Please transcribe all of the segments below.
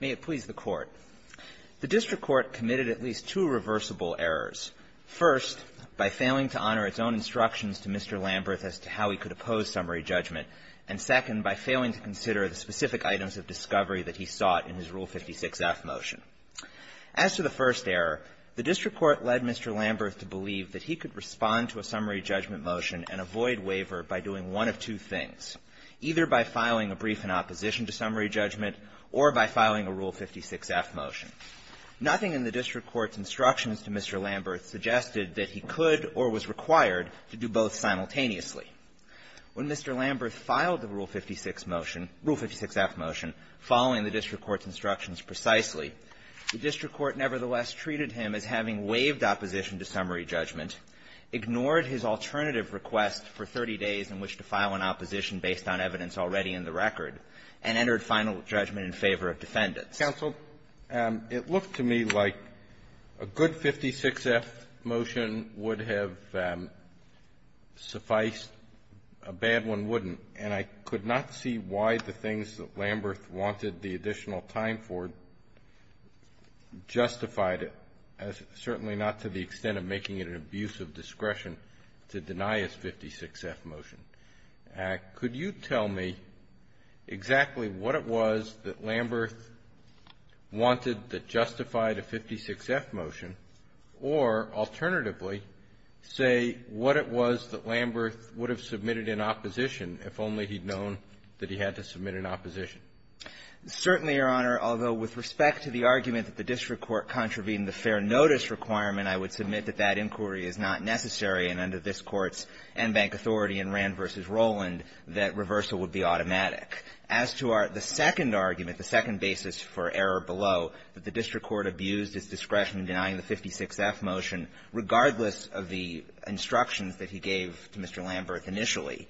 May it please the Court. The district court committed at least two reversible errors. First, by failing to honor its own instructions to Mr. Lambirth as to how he could oppose summary judgment, and second, by failing to consider the specific items of discovery that he sought in his Rule 56F motion. As to the first error, the district court led Mr. Lambirth to believe that he could respond to a summary judgment or by filing a Rule 56F motion. Nothing in the district court's instructions to Mr. Lambirth suggested that he could or was required to do both simultaneously. When Mr. Lambirth filed the Rule 56 motion, Rule 56F motion, following the district court's instructions precisely, the district court nevertheless treated him as having waived opposition to summary judgment, ignored his alternative request for 30 days in which to file an opposition based on evidence already in the record, and entered final judgment in favor of defendants. Counsel, it looked to me like a good 56F motion would have sufficed, a bad one wouldn't. And I could not see why the things that Lambirth wanted the additional time for justified certainly not to the extent of making it an abuse of discretion to deny his 56F motion. Could you tell me exactly what it was that Lambirth wanted that justified a 56F motion, or alternatively, say what it was that Lambirth would have submitted in opposition if only he'd known that he had to submit in opposition? Certainly, Your Honor, although with respect to the argument that the district court contravened the fair notice requirement, I would submit that that inquiry is not necessary, and under this Court's en banc authority in Rand v. Roland, that reversal would be automatic. As to our the second argument, the second basis for error below, that the district court abused its discretion in denying the 56F motion, regardless of the instructions that he gave to Mr. Lambirth initially,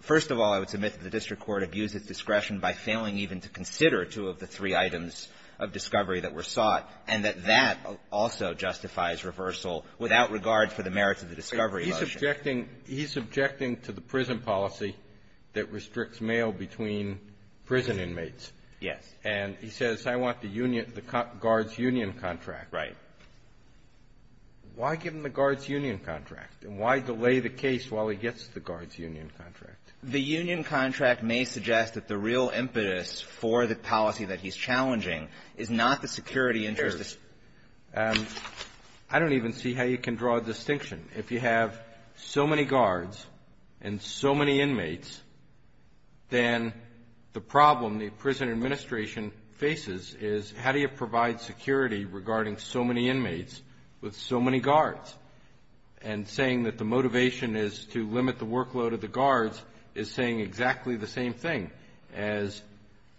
first of all, I would submit that the district court abused its discretion by failing even to consider two of the three items of discovery that were sought, and that that also justifies reversal without regard for the merits of the discovery motion. He's objecting to the prison policy that restricts mail between prison inmates. Yes. And he says, I want the union the guard's union contract. Right. Why give him the guard's union contract? And why delay the case while he gets the guard's union contract? The union contract may suggest that the real impetus for the policy that he's challenging is not the security interest. I don't even see how you can draw a distinction. If you have so many guards and so many inmates, then the problem the prison administration faces is, how do you provide security regarding so many inmates with so many guards? And saying that the motivation is to limit the workload of the guards is saying exactly the same thing as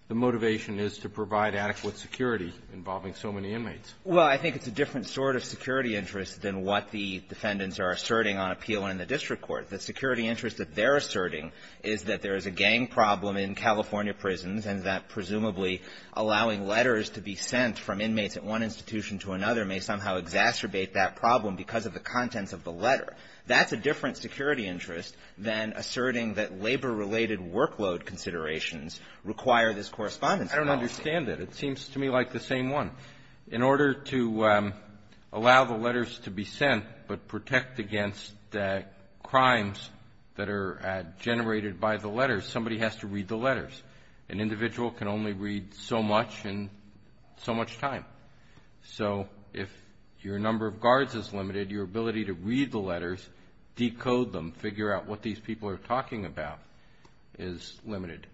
the motivation is to provide adequate security involving so many inmates. Well, I think it's a different sort of security interest than what the defendants are asserting on appeal in the district court. The security interest that they're asserting is that there is a gang problem in California prisons, and that presumably allowing letters to be sent from inmates at one institution to another may somehow exacerbate that problem because of the contents of the letter. That's a different security interest than asserting that labor-related workload considerations require this correspondence policy. I don't understand it. It seems to me like the same one. In order to allow the letters to be sent but protect against crimes that are generated by the letters, somebody has to read the letters. An individual can only read so much in so much time. So if your number of guards is limited, your ability to read the letters, decode them, figure out what these people are talking about is limited.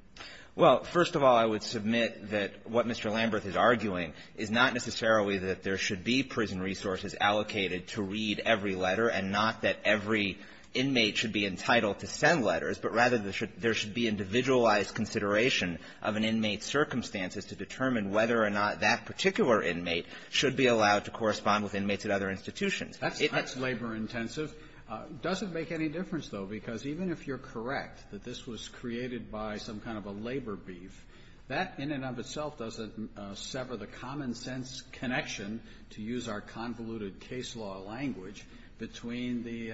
Well, first of all, I would submit that what Mr. Lamberth is arguing is not necessarily that there should be prison resources allocated to read every letter and not that every inmate should be entitled to send letters, but rather there should be individualized consideration of an inmate's circumstances to determine whether or not that particular inmate should be allowed to correspond with inmates at other institutions. That's labor-intensive. Does it make any difference, though? Because even if you're correct that this was created by some kind of a labor beef, that in and of itself doesn't sever the common-sense connection, to use our convoluted case law language, between the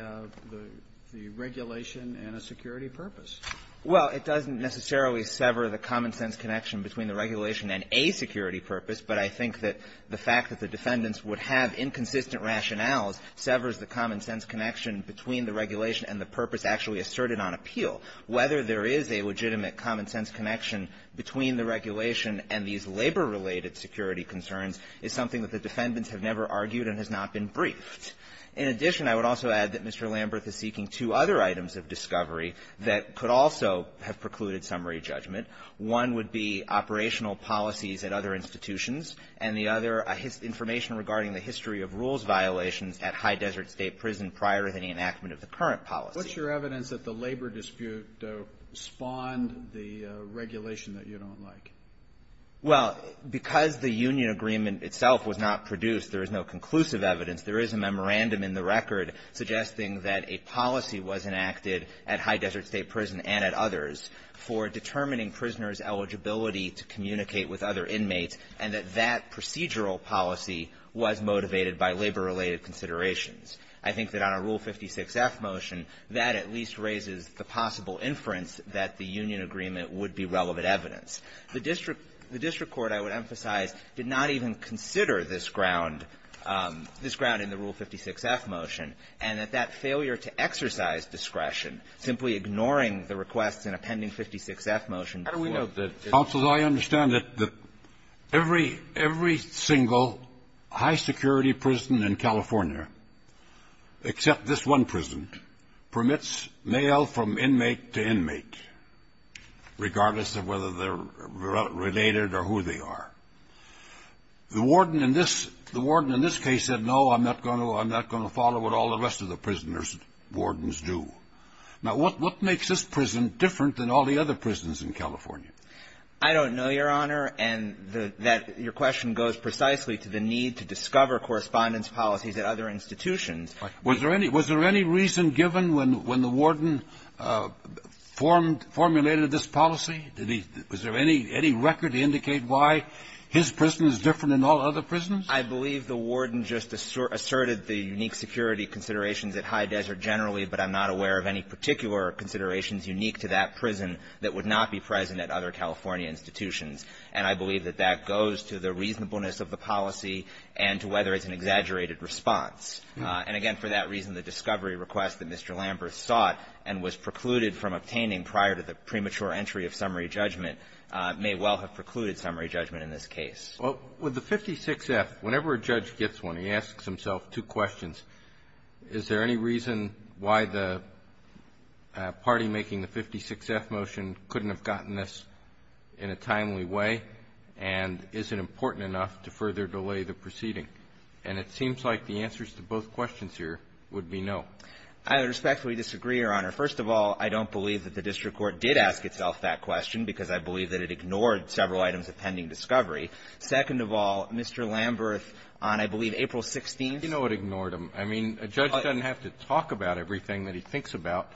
regulation and a security purpose. Well, it doesn't necessarily sever the common-sense connection between the regulation and a security purpose, but I think that the fact that the defendants would have inconsistent rationales severs the common-sense connection between the regulation and the purpose actually asserted on appeal. Whether there is a legitimate common-sense connection between the regulation and these labor-related security concerns is something that the defendants have never argued and has not been briefed. In addition, I would also add that Mr. Lamberth is seeking two other items of discovery that could also have precluded summary judgment. One would be operational policies at other institutions, and the other, information regarding the history of rules violations at High Desert State Prison prior to the enactment of the current policy. What's your evidence that the labor dispute spawned the regulation that you don't like? Well, because the union agreement itself was not produced, there is no conclusive evidence. There is a memorandum in the record suggesting that a policy was enacted at High Desert State Prison and at others for determining prisoners' eligibility to communicate with other inmates, and that that procedural policy was motivated by labor-related considerations. I think that on a Rule 56F motion, that at least raises the possible inference that the union agreement would be relevant evidence. The district court, I would emphasize, did not even consider this ground, this ground in the Rule 56F motion, and that that failure to exercise discretion, simply ignoring the requests in a pending 56F motion. Scalia. How do we know that, counsel, I understand that every single high-security prison in California, except this one prison, permits mail from inmate to inmate, regardless of whether they're related or who they are. The warden in this case said, no, I'm not going to follow what all the rest of the prisoners' wardens do. Now, what makes this prison different than all the other prisons in California? I don't know, Your Honor, and that your question goes precisely to the need to discover correspondence policies at other institutions. Was there any reason given when the warden formulated this policy? Was there any record to indicate why his prison is different than all other prisons? I believe the warden just asserted the unique security considerations at High Desert generally, but I'm not aware of any particular considerations unique to that prison that would not be present at other California institutions. And I believe that that goes to the reasonableness of the policy and to whether it's an exaggerated response. And again, for that reason, the discovery request that Mr. Lamberth sought and was precluded from obtaining prior to the premature entry of summary judgment may well have precluded summary judgment in this case. Well, with the 56-F, whenever a judge gets one, he asks himself two questions. Is there any reason why the party making the 56-F motion couldn't have gotten this in a timely way? And is it important enough to further delay the proceeding? And it seems like the answers to both questions here would be no. I respectfully disagree, Your Honor. First of all, I don't believe that the district court did ask itself that question because I believe that it ignored several items of pending discovery. Second of all, Mr. Lamberth, on, I believe, April 16th ---- You know it ignored him. I mean, a judge doesn't have to talk about everything that he thinks about.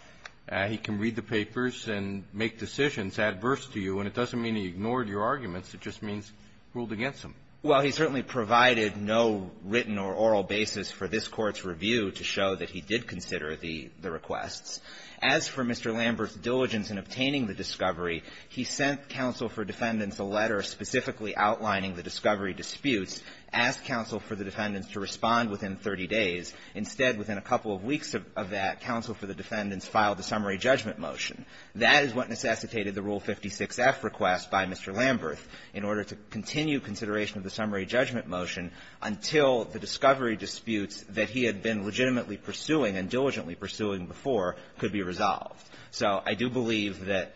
He can read the papers and make decisions adverse to you. And it doesn't mean he ignored your arguments. It just means ruled against him. Well, he certainly provided no written or oral basis for this Court's review to show that he did consider the requests. As for Mr. Lamberth's diligence in obtaining the discovery, he sent counsel for defendants a letter specifically outlining the discovery disputes, asked counsel for the defendants to respond within 30 days. Instead, within a couple of weeks of that, counsel for the defendants filed a summary judgment motion. That is what necessitated the Rule 56-F request by Mr. Lamberth in order to continue consideration of the summary judgment motion until the discovery disputes that he had been legitimately pursuing and diligently pursuing before could be resolved. So I do believe that,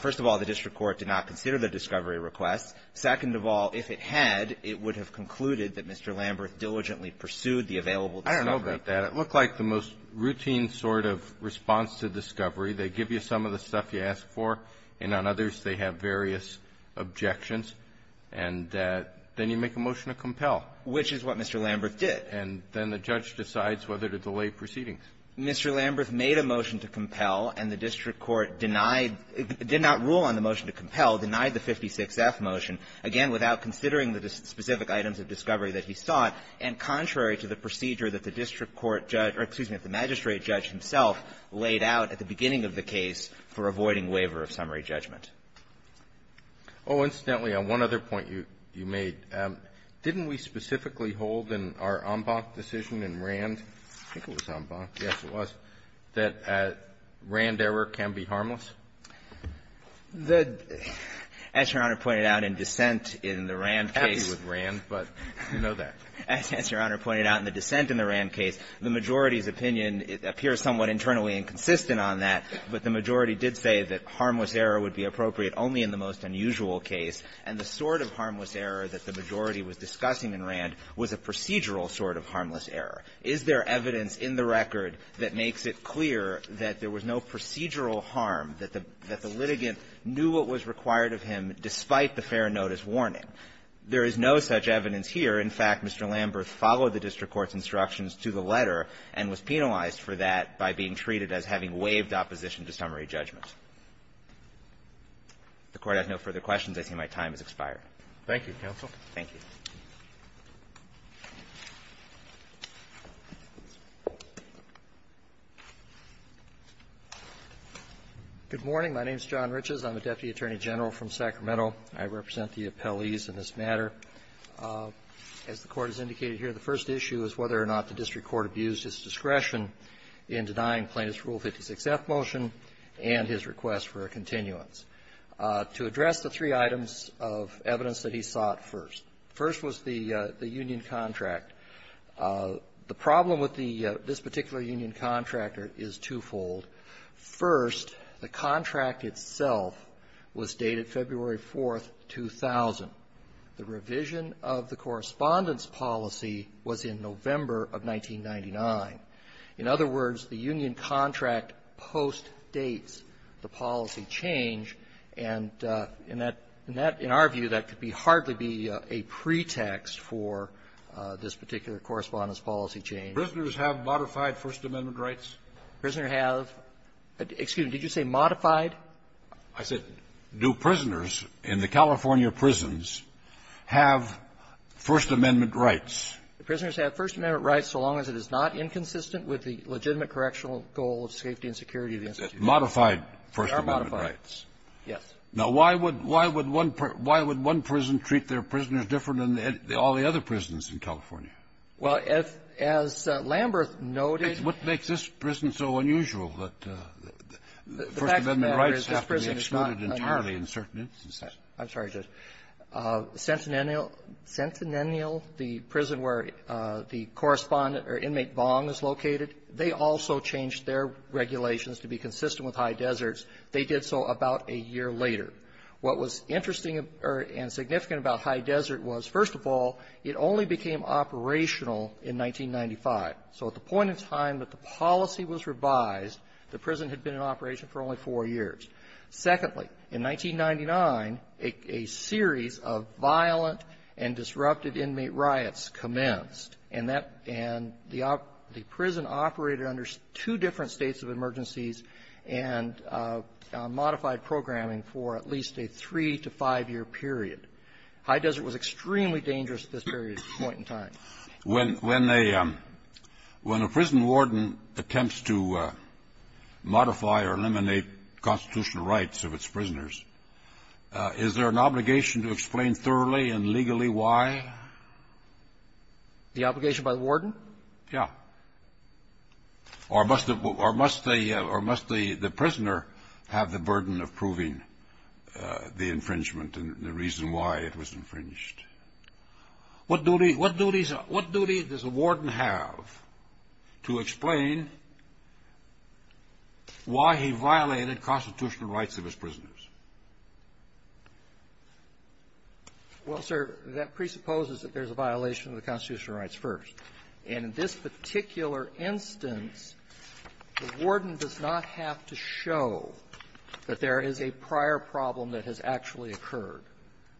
first of all, the district court did not consider the discovery request. Second of all, if it had, it would have concluded that Mr. Lamberth diligently pursued the available discovery. I don't know about that. It looked like the most routine sort of response to discovery. They give you some of the stuff you ask for, and on others they have various objections. And then you make a motion to compel. Which is what Mr. Lamberth did. And then the judge decides whether to delay proceedings. Mr. Lamberth made a motion to compel, and the district court denied the 56-F motion, again, without considering the specific items of discovery that he sought, and contrary to the procedure that the district court judge or, excuse me, the magistrate judge himself laid out at the beginning of the case for avoiding waiver of summary judgment. Oh, incidentally, on one other point you made, didn't we specifically hold in our en banc decision in Rand, I think it was en banc, yes, it was, that Rand error can be harmless? The as Your Honor pointed out in dissent in the Rand case. I'm happy with Rand, but you know that. As Your Honor pointed out in the dissent in the Rand case, the majority's opinion appears somewhat internally inconsistent on that, but the majority did say that harmless error would be appropriate only in the most unusual case, and the sort of harmless error that the majority was discussing in Rand was a procedural sort of harmless error. Is there evidence in the record that makes it clear that there was no procedural harm, that the litigant knew what was required of him despite the fair notice warning? There is no such evidence here. In fact, Mr. Lamberth followed the district court's instructions to the letter and was penalized for that by being treated as having waived opposition to summary judgment. If the Court has no further questions, I see my time has expired. Roberts. Thank you, counsel. Thank you. Good morning. My name is John Riches. I'm a deputy attorney general from Sacramento. I represent the appellees in this matter. As the Court has indicated here, the first issue is whether or not the district court abused his discretion in denying Plaintiff's Rule 56F motion and his request for a continuance. To address the three items of evidence that he sought first, first was the union contract. The problem with the this particular union contract is twofold. First, the contract itself was dated February 4th, 2000. The revision of the correspondence policy was in November of 1999. In other words, the union contract postdates the policy change, and in that ---in our view, that could be hardly be a pretext for this particular correspondence policy change. Prisoners have modified First Amendment rights? Prisoner have. Excuse me. Did you say modified? I said, do prisoners in the California prisons have First Amendment rights? The prisoners have First Amendment rights so long as it is not inconsistent with the legitimate correctional goal of safety and security of the institution. Modified First Amendment rights. Yes. Now, why would one prison treat their prisoners different than all the other prisons Well, as Lamberth noted --- I'm sorry, Judge. Centennial, the prison where the correspondent or inmate Bong is located, they also changed their regulations to be consistent with High Desert's. They did so about a year later. What was interesting and significant about High Desert was, first of all, it only became operational in 1995. So at the point in time that the policy was revised, the prison had been in operation for only four years. Secondly, in 1999, a series of violent and disrupted inmate riots commenced. And that the prison operated under two different states of emergencies and modified programming for at least a three- to five-year period. High Desert was extremely dangerous at this point in time. When a prison warden attempts to modify or eliminate constitutional rights of its prisoners, is there an obligation to explain thoroughly and legally why? The obligation by the warden? Yeah. Or must the prisoner have the burden of proving the infringement and the reason why it was infringed? What duty does a warden have to explain why he violated constitutional rights of his prisoners? Well, sir, that presupposes that there's a violation of the constitutional rights first. And in this particular instance, the warden does not have to show that there is a prior problem that has actually occurred.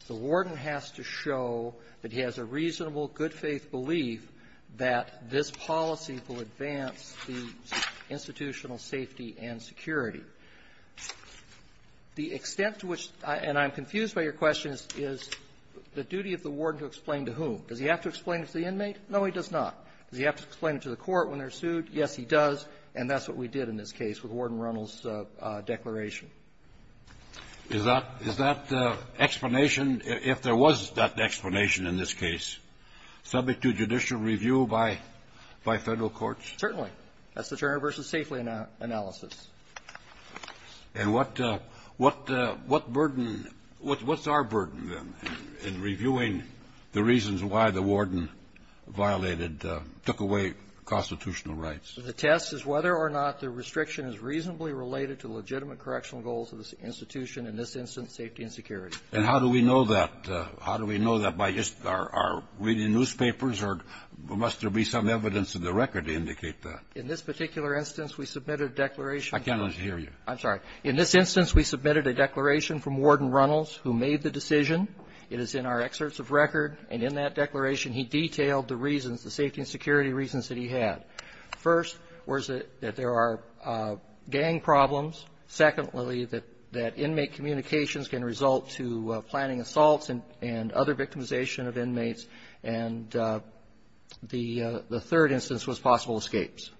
The warden has to show that he has a reasonable, good-faith belief that this policy will advance the institutional safety and security. The extent to which the duty of the warden to explain to whom? Does he have to explain it to the inmate? No, he does not. Does he have to explain it to the court when they're sued? Yes, he does. And that's what we did in this case with Warden Reynolds' declaration. Is that the explanation, if there was that explanation in this case, subject to judicial review by Federal courts? Certainly. That's the Turner v. Safely analysis. And what burden — what's our burden, then, in reviewing the reasons why the warden violated, took away constitutional rights? The test is whether or not the restriction is reasonably related to legitimate correctional goals of the institution, in this instance, safety and security. And how do we know that? How do we know that? By just our reading newspapers? Or must there be some evidence in the record to indicate that? In this particular instance, we submitted a declaration. I cannot hear you. I'm sorry. In this instance, we submitted a declaration from Warden Reynolds, who made the decision. It is in our excerpts of record. And in that declaration, he detailed the reasons, the safety and security reasons that he had. First, was that there are gang problems. Secondly, that inmate communications can result to planning assaults and other victimization of inmates. And the third instance was possible escapes.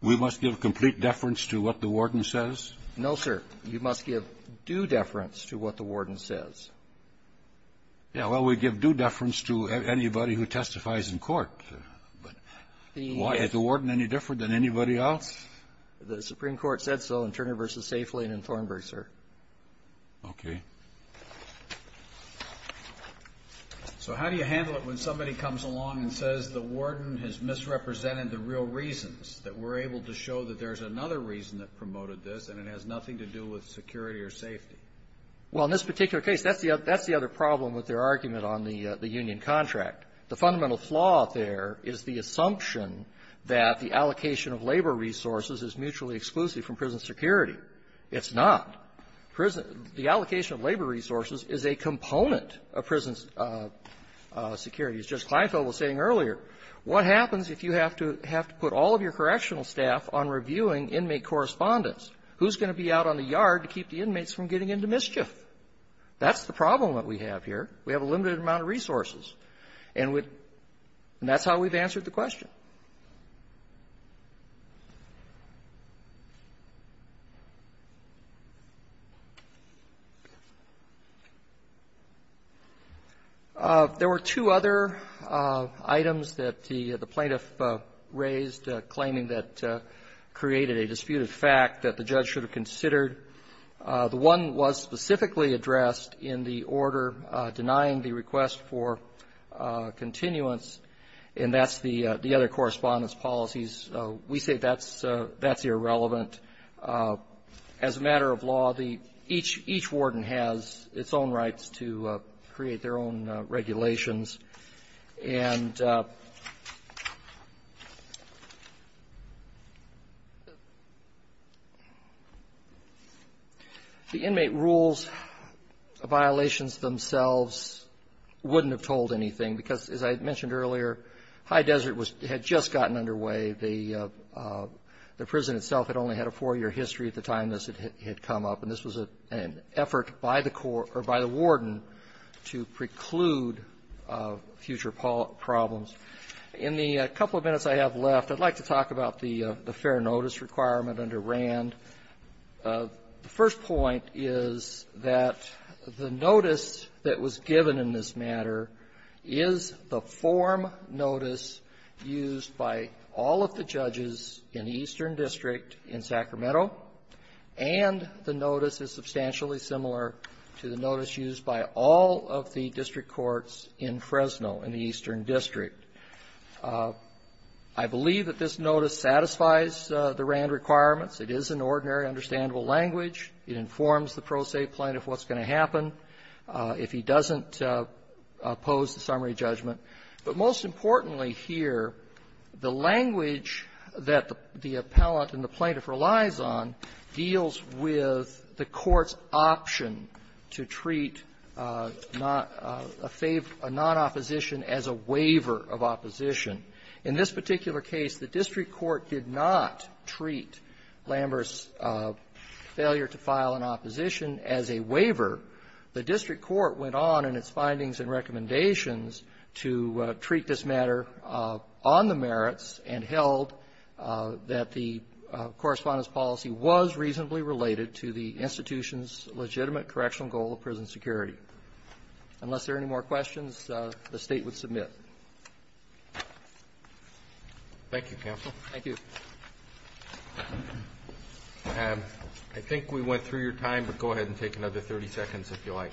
We must give complete deference to what the warden says? No, sir. You must give due deference to what the warden says. Yeah. Well, we give due deference to anybody who testifies in court. But why? Is the warden any different than anybody else? The Supreme Court said so in Turner v. Safely and in Thornburg, sir. OK. So how do you handle it when somebody comes along and says the warden has misrepresented the real reasons that we're able to show that there's another reason that promoted this, and it has nothing to do with security or safety? Well, in this particular case, that's the other problem with their argument on the union contract. The fundamental flaw there is the assumption that the allocation of labor resources is mutually exclusive from prison security. It's not. Prison the allocation of labor resources is a component of prison security. As Judge Kleinfeld was saying earlier, what happens if you have to put all of your correctional staff on reviewing inmate correspondence? Who's going to be out on the yard to keep the inmates from getting into mischief? That's the problem that we have here. We have a limited amount of resources. And we – and that's how we've answered the question. There were two other items that the plaintiff raised claiming that created a disputed fact that the judge should have considered. The one was specifically addressed in the order denying the request for continuance, and that's the other correspondence policies. We say that's irrelevant. As a matter of law, the – each warden has its own rights to create their own regulations. And the inmate rules violations themselves wouldn't have told anything because, as I mentioned earlier, High Desert was – had just gotten underway. The prison itself had only had a four-year history at the time this had come up. And this was an effort by the court – or by the warden to preclude future problems. In the couple of minutes I have left, I'd like to talk about the fair notice requirement under Rand. The first point is that the notice that was given in this matter is the form notice used by all of the judges in the Eastern District in Sacramento, and the notice is substantially similar to the notice used by all of the district courts in Fresno, in the Eastern District. I believe that this notice satisfies the Rand requirements. It is an ordinary, understandable language. It informs the pro se plaintiff what's going to happen if he doesn't pose the summary judgment. But most importantly here, the language that the appellant and the plaintiff relies on deals with the court's option to treat a non-opposition as a waiver of opposition. In this particular case, the district court did not treat Lambert's failure to file an opposition as a waiver. The district court went on in its findings and recommendations to treat this matter on the merits and held that the Correspondent's policy was reasonably related to the institution's legitimate correctional goal of prison security. Unless there are any more questions, the State would submit. Thank you, counsel. Thank you. I think we went through your time, but go ahead and take another 30 seconds if you like.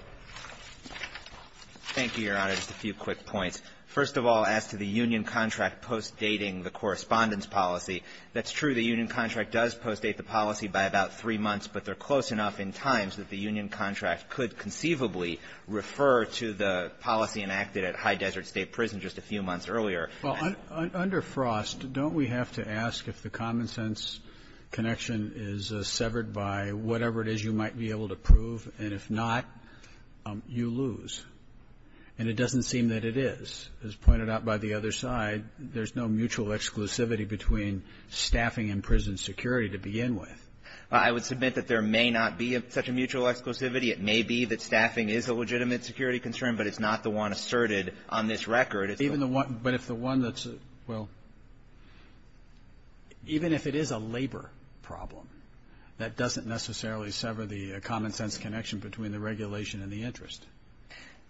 Thank you, Your Honor. Just a few quick points. First of all, as to the union contract post-dating the Correspondent's policy, that's true. The union contract does post-date the policy by about three months, but they're close enough in times that the union contract could conceivably refer to the policy enacted at High Desert State Prison just a few months earlier. Well, under Frost, don't we have to ask if the common-sense connection is severed by whatever it is you might be able to prove, and if not, you lose? And it doesn't seem that it is. As pointed out by the other side, there's no mutual exclusivity between staffing and prison security to begin with. I would submit that there may not be such a mutual exclusivity. It may be that staffing is a legitimate security concern, but it's not the one asserted on this record. Even the one that's the one that's, well, even if it is a labor problem, that doesn't necessarily sever the common-sense connection between the regulation and the interest.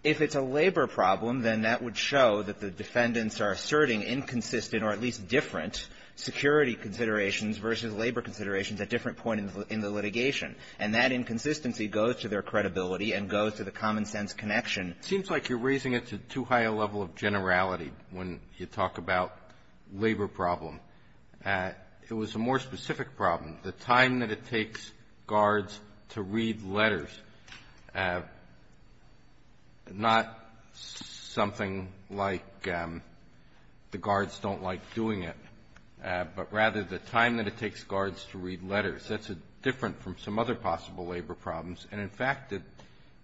If it's a labor problem, then that would show that the defendants are asserting inconsistent or at least different security considerations versus labor considerations at different points in the litigation. And that inconsistency goes to their credibility and goes to the common-sense connection. It seems like you're raising it to too high a level of generality when you talk about labor problem. It was a more specific problem. The time that it takes guards to read letters, not something like the guards don't like doing it, but rather the time that it takes guards to read letters. That's different from some other possible labor problems. And in fact,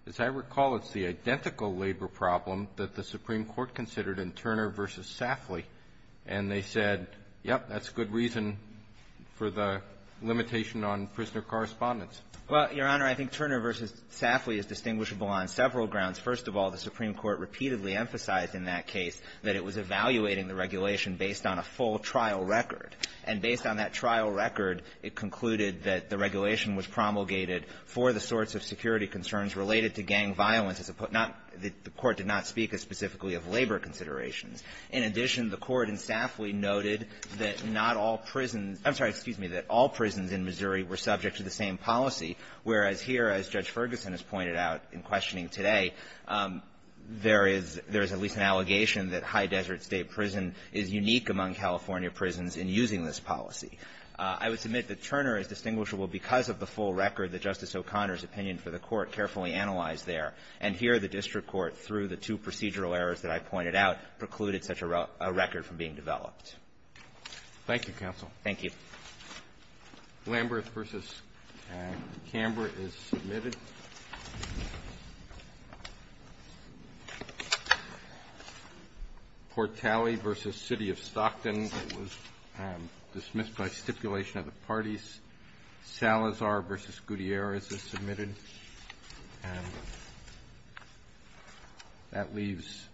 as I recall, it's the identical labor problem that the Supreme Court considered in Turner v. Safley. And they said, yep, that's a good reason for the limitation on prisoner correspondence. Well, Your Honor, I think Turner v. Safley is distinguishable on several grounds. First of all, the Supreme Court repeatedly emphasized in that case that it was evaluating the regulation based on a full trial record. And based on that trial record, it concluded that the regulation was promulgated for the sorts of security concerns related to gang violence as opposed to not the court did not speak as specifically of labor considerations. In addition, the court in Safley noted that not all prisons — I'm sorry, excuse me — that all prisons in Missouri were subject to the same policy, whereas here, as Judge Ferguson has pointed out in questioning today, there is at least an allegation that high desert state prison is unique among California prisons in using this policy. I would submit that Turner is distinguishable because of the full record that Justice O'Connor's opinion for the court carefully analyzed there. And here, the district court, through the two procedural errors that I pointed out, precluded such a record from being developed. Roberts. Thank you, counsel. Thank you. Lamberth v. Camber is submitted. Portali v. City of Stockton was dismissed by stipulation of the parties. Salazar v. Gutierrez is submitted. And that leaves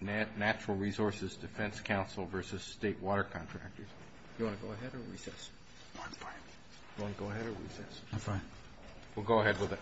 Natural Resources Defense Counsel v. State Water Contractors. Do you want to go ahead or recess? I'm fine. Do you want to go ahead or recess? I'm fine. We'll go ahead with it.